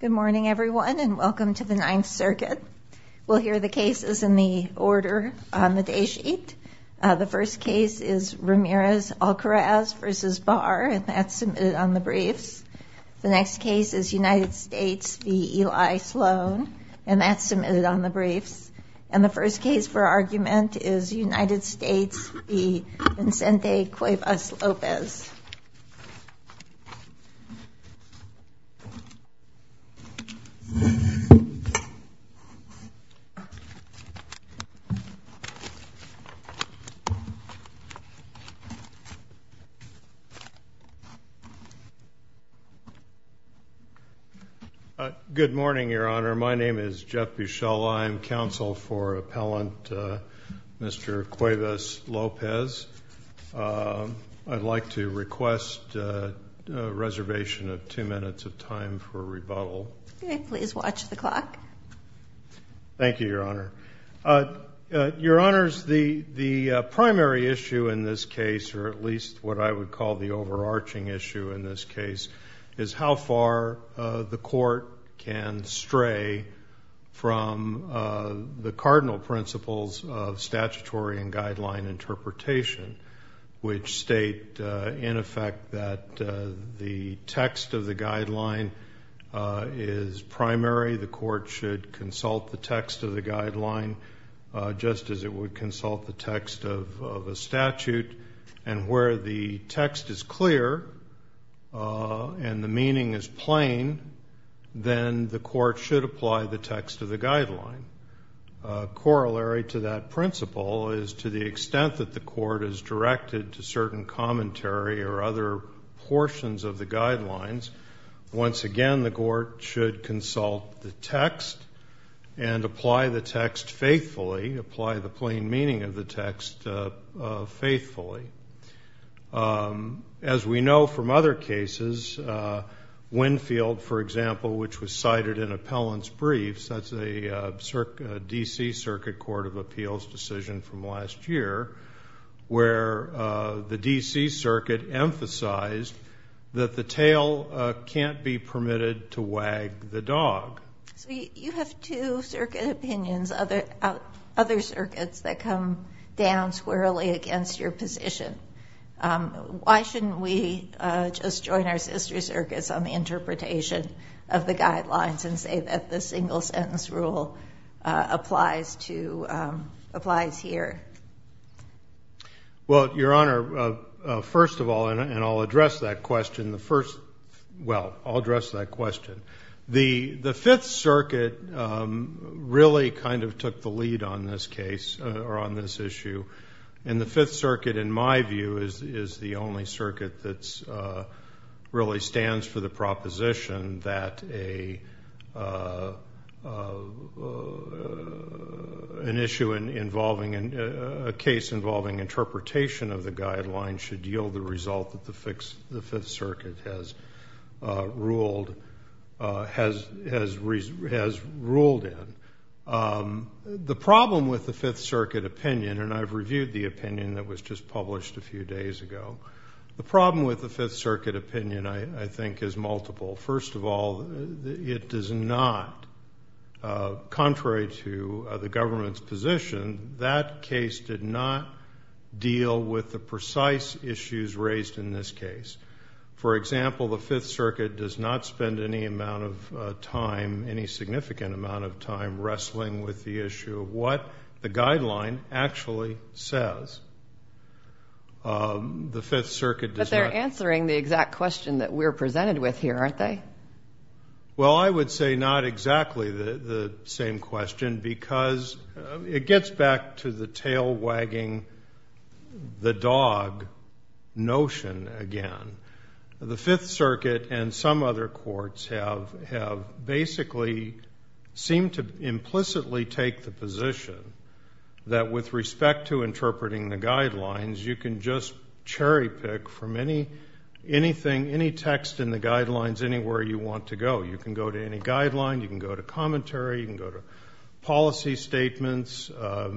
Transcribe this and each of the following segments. Good morning everyone and welcome to the Ninth Circuit. We'll hear the cases in the order on the day sheet. The first case is Ramirez-Alcaraz v. Barr and that's submitted on the briefs. The next case is United States v. Eli Sloan and that's submitted on the briefs. And the first case for argument is United States v. Vicente Cuevas-Lopez. Good morning, Your Honor. My name is Jeff Buchel. I'm counsel for appellant Mr. Cuevas-Lopez. I'd like to request a reservation of two minutes of time for rebuttal. Okay, please watch the clock. Thank you, Your Honor. Your Honors, the primary issue in this case, or at least what I would call the overarching issue in this case, is how far the court can stray from the cardinal principles of statutory and guideline interpretation, which state in effect that the text of the guideline is primary. The court should consult the text of the guideline just as it would consult the text of a statute. And where the text is clear and the meaning is plain, then the court should apply the text of the guideline. Corollary to that principle is to the extent that the court is directed to certain commentary or other portions of the guidelines, once again the court should consult the text and apply the text faithfully, apply the plain meaning of the text faithfully. As we know from other cases, Winfield, for example, which was cited in appellant's briefs, that's a D.C. Circuit Court of Appeals decision from last year, where the D.C. Circuit emphasized that the tail can't be permitted to wag the dog. So you have two circuit opinions, other circuits that come down squarely against your position. Why shouldn't we just join our sister circuits on the interpretation of the guidelines and say that the single sentence rule applies here? Well, Your Honor, first of all, and I'll address that question, the first, well, I'll address that question. The Fifth Circuit really kind of took the lead on this case or on this issue. And the Fifth Circuit, in my view, is the only circuit that really stands for the proposition that an issue involving, a case involving interpretation of the guidelines should yield the result that the Fifth Circuit has ruled in. The problem with the Fifth Circuit opinion, and I've reviewed the opinion that was just published a few days ago, the problem with the Fifth Circuit opinion, I think, is multiple. First of all, it does not, contrary to the government's position, that case did not deal with the precise issues raised in this case. For example, the Fifth Circuit does not spend any amount of time, any significant amount of time, wrestling with the issue of what the guideline actually says. The Fifth Circuit does not... But they're answering the exact question that we're presented with here, aren't they? Well, I would say not exactly the same question because it gets back to the tail wagging the horse. The Fifth Circuit's guidelines have basically seemed to implicitly take the position that with respect to interpreting the guidelines, you can just cherry pick from anything, any text in the guidelines, anywhere you want to go. You can go to any guideline, you can go to commentary, you can go to policy statements,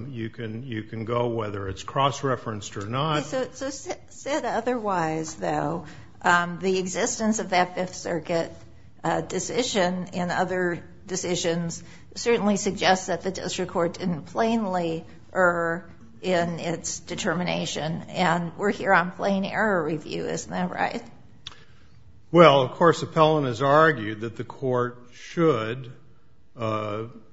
you can go whether it's cross-referenced or not. Okay, so said otherwise, though, the existence of that Fifth Circuit decision and other decisions certainly suggests that the district court didn't plainly err in its determination and we're here on plain error review, isn't that right? Well, of course, Appellant has argued that the court should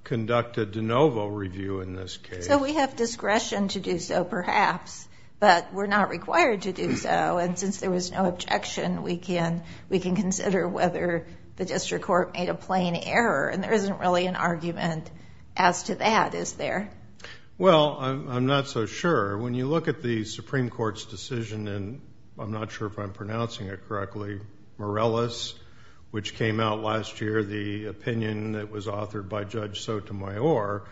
conduct a de novo review in this case. So we have discretion to do so, perhaps, but we're not required to do so and since there was no objection, we can consider whether the district court made a plain error and there isn't really an argument as to that, is there? Well, I'm not so sure. When you look at the Supreme Court's decision in, I'm not sure if I'm pronouncing it correctly, Morales, which came out last year, the opinion that was authored by Judge Sotomayor,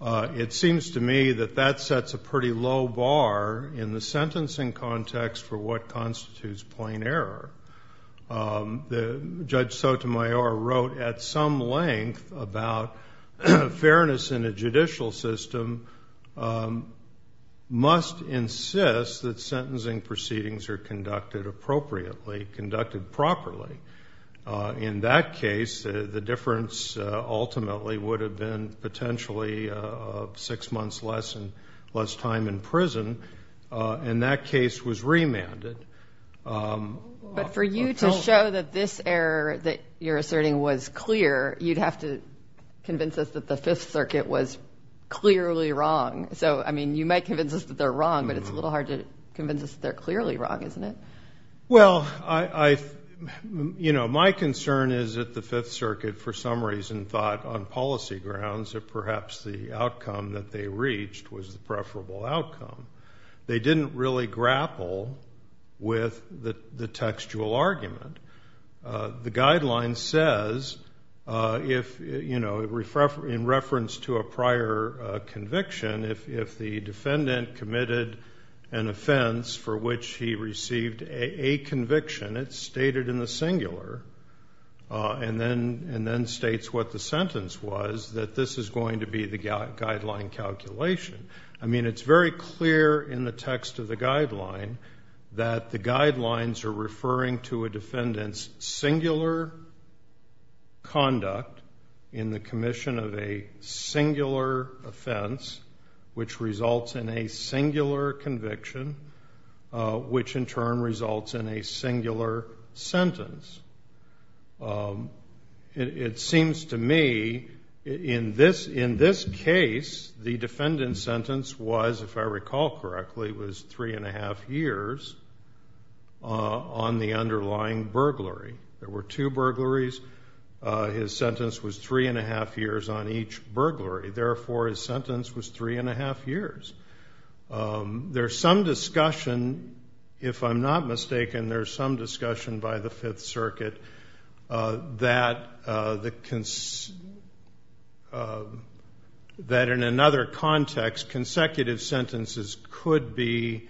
it seems to me that that sets a pretty low bar in the sentencing context for what constitutes plain error. Judge Sotomayor wrote at some length about fairness in a judicial system must insist that sentencing proceedings are conducted appropriately, conducted properly. In that case, the difference ultimately would have been potentially six months less and less time in prison and that case was remanded. But for you to show that this error that you're asserting was clear, you'd have to convince us that the Fifth Circuit was clearly wrong. So, I mean, you might convince us that they're wrong, isn't it? Well, I, you know, my concern is that the Fifth Circuit, for some reason, thought on policy grounds that perhaps the outcome that they reached was the preferable outcome. They didn't really grapple with the textual argument. The guideline says if, you know, in reference to a prior conviction, if the defendant committed an offense for which he received a conviction, it's stated in the singular and then states what the sentence was, that this is going to be the guideline calculation. I mean, it's very clear in the text of the guideline that the guidelines are referring to a defendant's singular conduct in the commission of a singular offense, which results in a singular conviction, which in turn results in a singular sentence. It seems to me, in this case, the defendant's sentence was, if I recall correctly, was three and a half years on the underlying burglary. There were two burglaries. His sentence was three and a half years on each burglary. Therefore, his sentence was three and a half years. There's some discussion, if I'm not mistaken, there's some discussion by the Fifth Circuit that in another context, consecutive sentences could be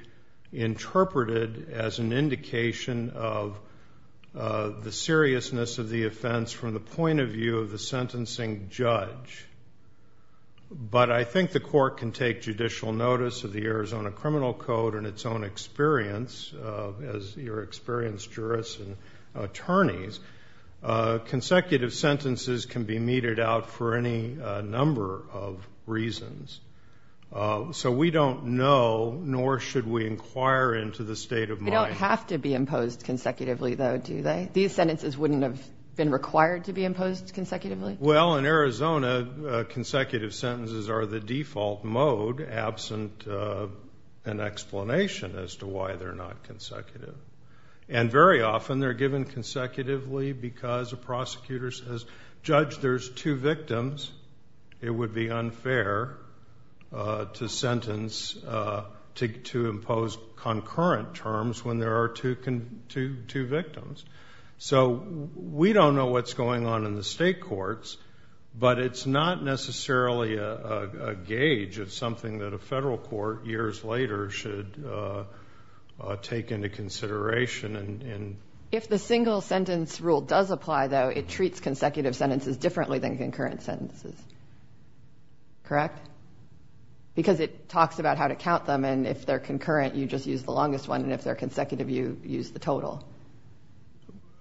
interpreted as an indication of the seriousness of the offense from the point of view of the sentencing judge. But I think the court can take judicial notice of the Arizona Criminal Code in its own experience as your experienced jurists and attorneys. Consecutive sentences can be meted out for any number of reasons. So we don't know, nor should we inquire into the state of mind. They don't have to be imposed consecutively, though, do they? These sentences wouldn't have been required to be imposed consecutively? Well, in Arizona, consecutive sentences are the default mode, absent an explanation as to why they're not consecutive. And very often they're given consecutively because a prosecutor says, Judge, there's two victims. It would be unfair to sentence, to impose concurrent terms when there are two victims. So we don't know what's going on in the state courts, but it's not necessarily a gauge of something that a federal court years later should take into consideration. If the single sentence rule does apply, though, it treats consecutive sentences differently than concurrent sentences, correct? Because it talks about how to count them, and if they're concurrent, you just use the longest one, and if they're consecutive, you use the total.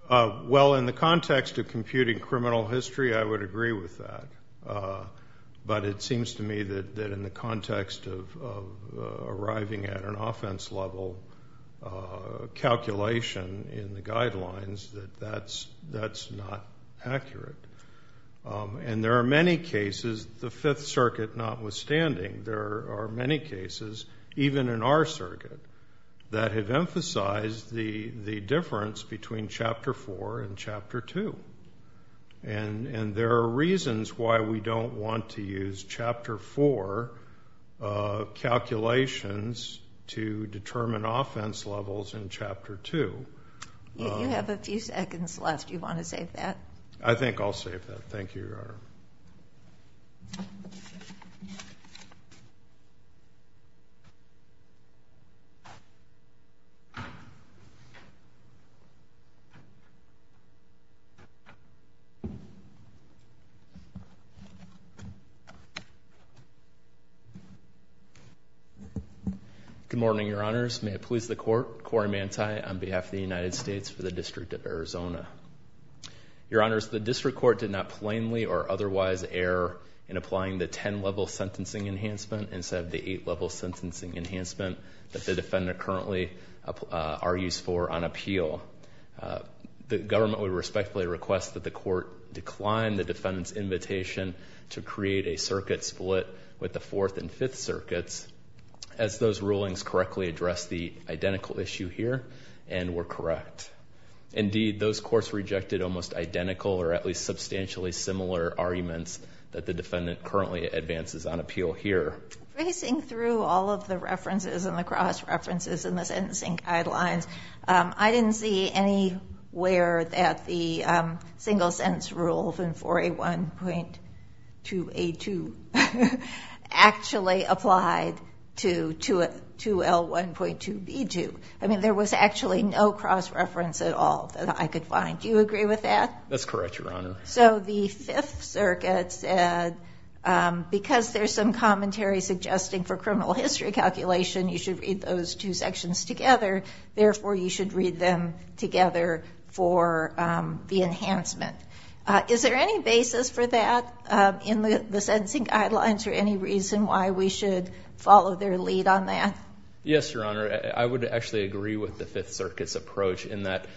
Well, in the context of computing criminal history, I would agree with that. But it seems to me that in the context of arriving at an offense level calculation in the guidelines, that that's not a good thing. That's not accurate. And there are many cases, the Fifth Circuit notwithstanding, there are many cases, even in our circuit, that have emphasized the difference between Chapter 4 and Chapter 2. And there are reasons why we don't want to use Chapter 4 calculations to determine offense levels in Chapter 2. You have a few seconds left. Do you want to save that? I think I'll save that. Thank you, Your Honor. Good morning, Your Honors. May it please the Court, Cory Mantay on behalf of the United States for the District of Arizona. Your Honors, the District Court did not plainly or otherwise err in applying the 10-level sentencing enhancement instead of the 8-level sentencing enhancement that the defendant currently argues for on appeal. The government would respectfully request that the Court decline the defendant's invitation to create a circuit split with the Fourth and Fifth Circuits as those rulings correctly address the identical issue here and were correct. Indeed, those courts rejected almost identical or at least substantially similar arguments that the defendant currently advances on appeal here. Racing through all of the references and the cross-references in the sentencing guidelines, I didn't see anywhere that the single-sense rule of 4A1.2A2 actually applied to 2L1.2B2. There was actually no cross-reference at all that I could find. Do you agree with that? That's correct, Your Honor. So the Fifth Circuit said, because there's some commentary suggesting for criminal history calculation you should read those two sections together, therefore you should read them together for the enhancement. Is there any basis for that in the sentencing guidelines or any reason why we should follow their lead on that? Yes, Your Honor. I would actually agree with the Fifth Circuit's approach in that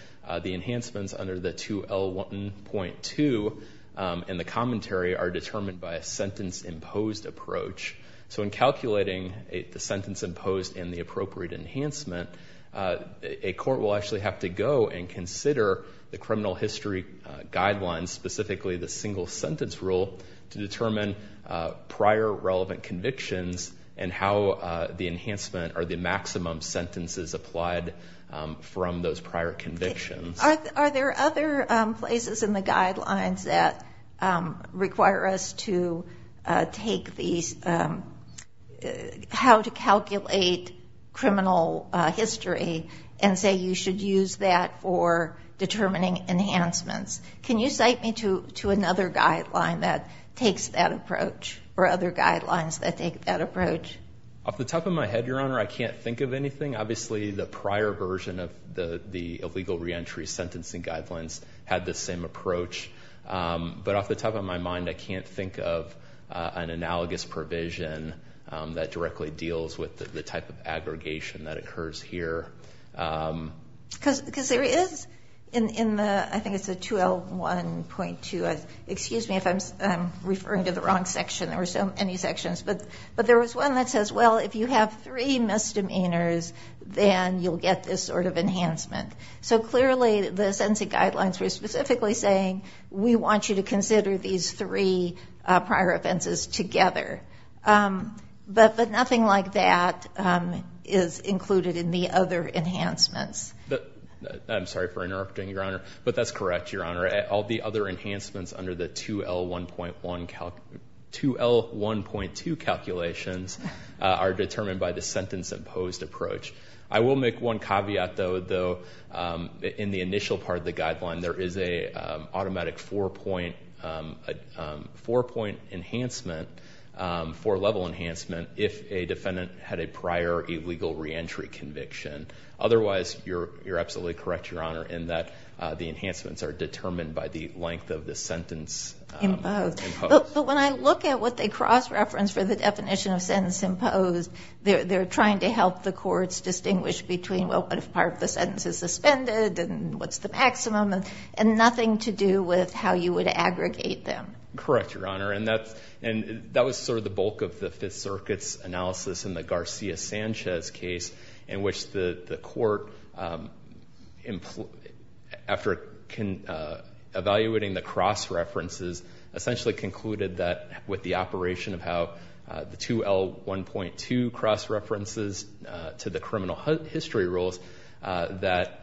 the enhancements under the 2L1.2 and the commentary are determined by a sentence-imposed approach. So in calculating the sentence-imposed and the appropriate enhancement, a court will actually have to go and consider the criminal history guidelines, specifically the single-sentence rule, to determine prior relevant convictions and how the enhancement or the maximum sentences applied from those prior convictions. Are there other places in the guidelines that require us to take these additional steps how to calculate criminal history and say you should use that for determining enhancements? Can you cite me to another guideline that takes that approach or other guidelines that take that approach? Off the top of my head, Your Honor, I can't think of anything. Obviously, the prior version of the illegal reentry sentencing guidelines had the same approach. But off the top of my mind, I can't think of an analogous provision that directly deals with the type of aggregation that occurs here. Because there is, I think it's a 2L1.2, excuse me if I'm referring to the wrong section. There were so many sections. But there was one that says, well, if you have three misdemeanors, then you'll get this sort of enhancement. So clearly, the sentencing guidelines were specifically saying we want you to consider these three prior offenses together. But nothing like that is included in the other enhancements. I'm sorry for interrupting, Your Honor. But that's correct, Your Honor. All the other enhancements under the 2L1.2 calculations are determined by the sentence imposed approach. I will make one caveat, though. In the initial part of the guideline, there is an automatic four-point enhancement, four-level enhancement, if a defendant had a prior illegal reentry conviction. Otherwise, you're absolutely correct, Your Honor, in that the enhancements are determined by the length of the sentence imposed. But when I look at what they cross-referenced for the definition of sentence imposed, they're trying to help the courts distinguish between, well, what if part of the sentence is suspended, and what's the maximum, and nothing to do with how you would aggregate them. Correct, Your Honor. And that was sort of the bulk of the Fifth Circuit's analysis in the Garcia-Sanchez case, in which the court, after evaluating the cross-references, essentially concluded that with the operation of how the 2L1.2 cross-references to the criminal history rules, that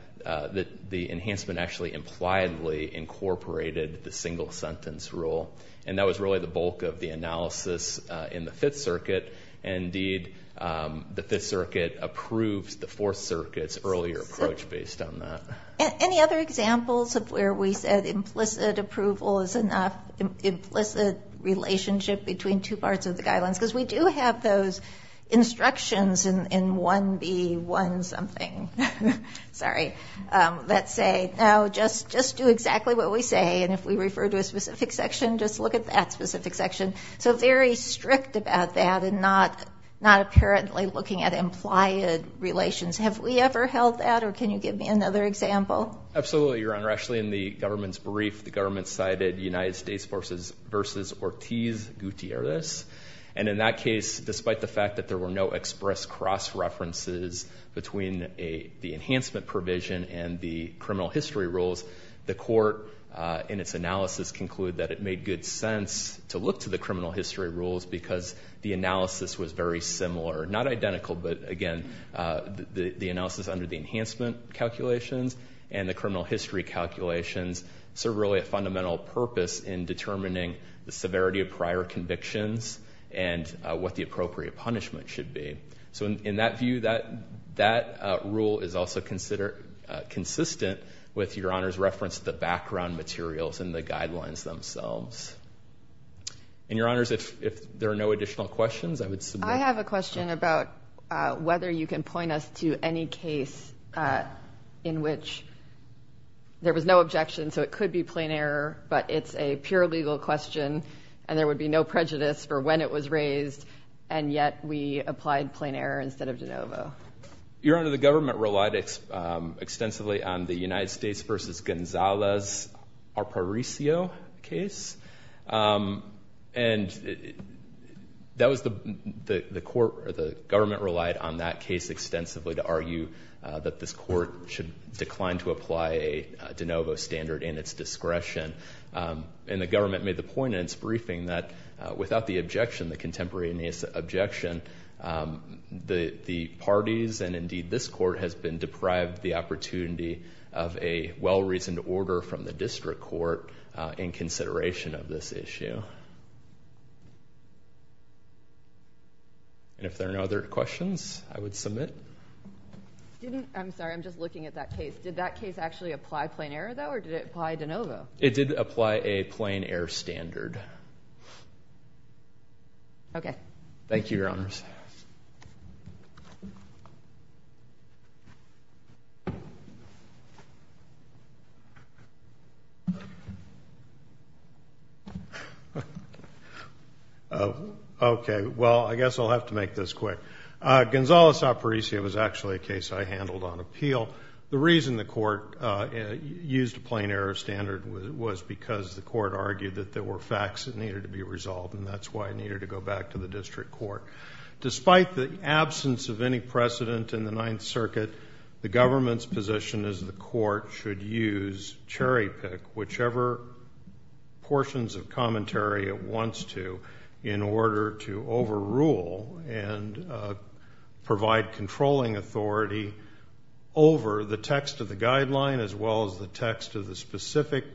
the enhancement actually impliedly incorporated the single-sentence rule. And that was really the bulk of the analysis in the Fifth Circuit. And indeed, the Fifth Circuit approved the Fourth Circuit's earlier approach based on that. Any other examples of where we said implicit approval is enough? Implicit relationship between two parts of the guidelines? Because we do have those instructions in 1B1 something, sorry, that say, no, just do exactly what we say. And if we refer to a specific section, just look at that specific section. So very strict about that, and not apparently looking at implied relations. Have we ever held that, or can you give me another example? Absolutely, Your Honor. Actually, in the government's brief, the government cited United States versus Ortiz Gutierrez. And in that case, despite the fact that there were no express cross-references between the enhancement provision and the criminal history rules, the court in its analysis concluded that it made good sense to look to the criminal history rules because the analysis was very similar. Not identical, but again, the analysis under the enhancement calculations and the criminal history calculations serve really a fundamental purpose in determining the severity of prior convictions and what the appropriate punishment should be. So in that view, that rule is also consistent with Your Honor's reference to the background materials and the guidelines themselves. And Your Honors, if there are no additional questions, I would submit. I have a question about whether you can point us to any case in which there was no objection, so it could be plain error, but it's a pure legal question, and there would be no prejudice for when it was raised, and yet we applied plain error instead of de novo. Your Honor, the government relied extensively on the United States' Arparicio case, and the government relied on that case extensively to argue that this court should decline to apply a de novo standard in its discretion. And the government made the point in its briefing that without the objection, the contemporaneous objection, the parties, and indeed this court, has been deprived the opportunity of a well-reasoned order from the district court in consideration of this issue. And if there are no other questions, I would submit. I'm sorry, I'm just looking at that case. Did that case actually apply plain error, though, or did it apply de novo? It did apply a plain error standard. Okay. Thank you, Your Honors. Okay. Well, I guess I'll have to make this quick. Gonzalez-Arparicio was actually a case I handled on appeal. The reason the court used a plain error standard was because the court argued that there were facts that needed to be resolved, and that's why it needed to go back to the district court. Despite the absence of any precedent in the Ninth Circuit, the government's position is the court should use cherry-pick whichever portions of commentary it wants to in order to overrule and provide controlling authority over the text of the guideline as well as the text of the specific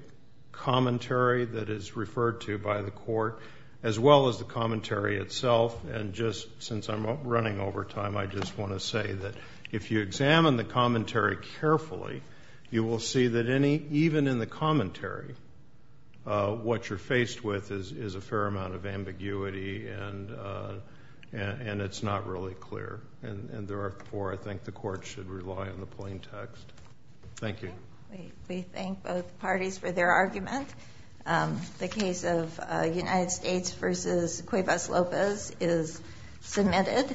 commentary that is referred to by the court, as well as the commentary itself. And just since I'm running over time, I just want to say that if you examine the commentary carefully, you will see that even in the commentary, what you're faced with is a fair amount of ambiguity and it's not really clear. And therefore, I think the court should rely on the plain text. Thank you. We thank both parties for their argument. The case of United States v. Cuevas-Lopez is submitted.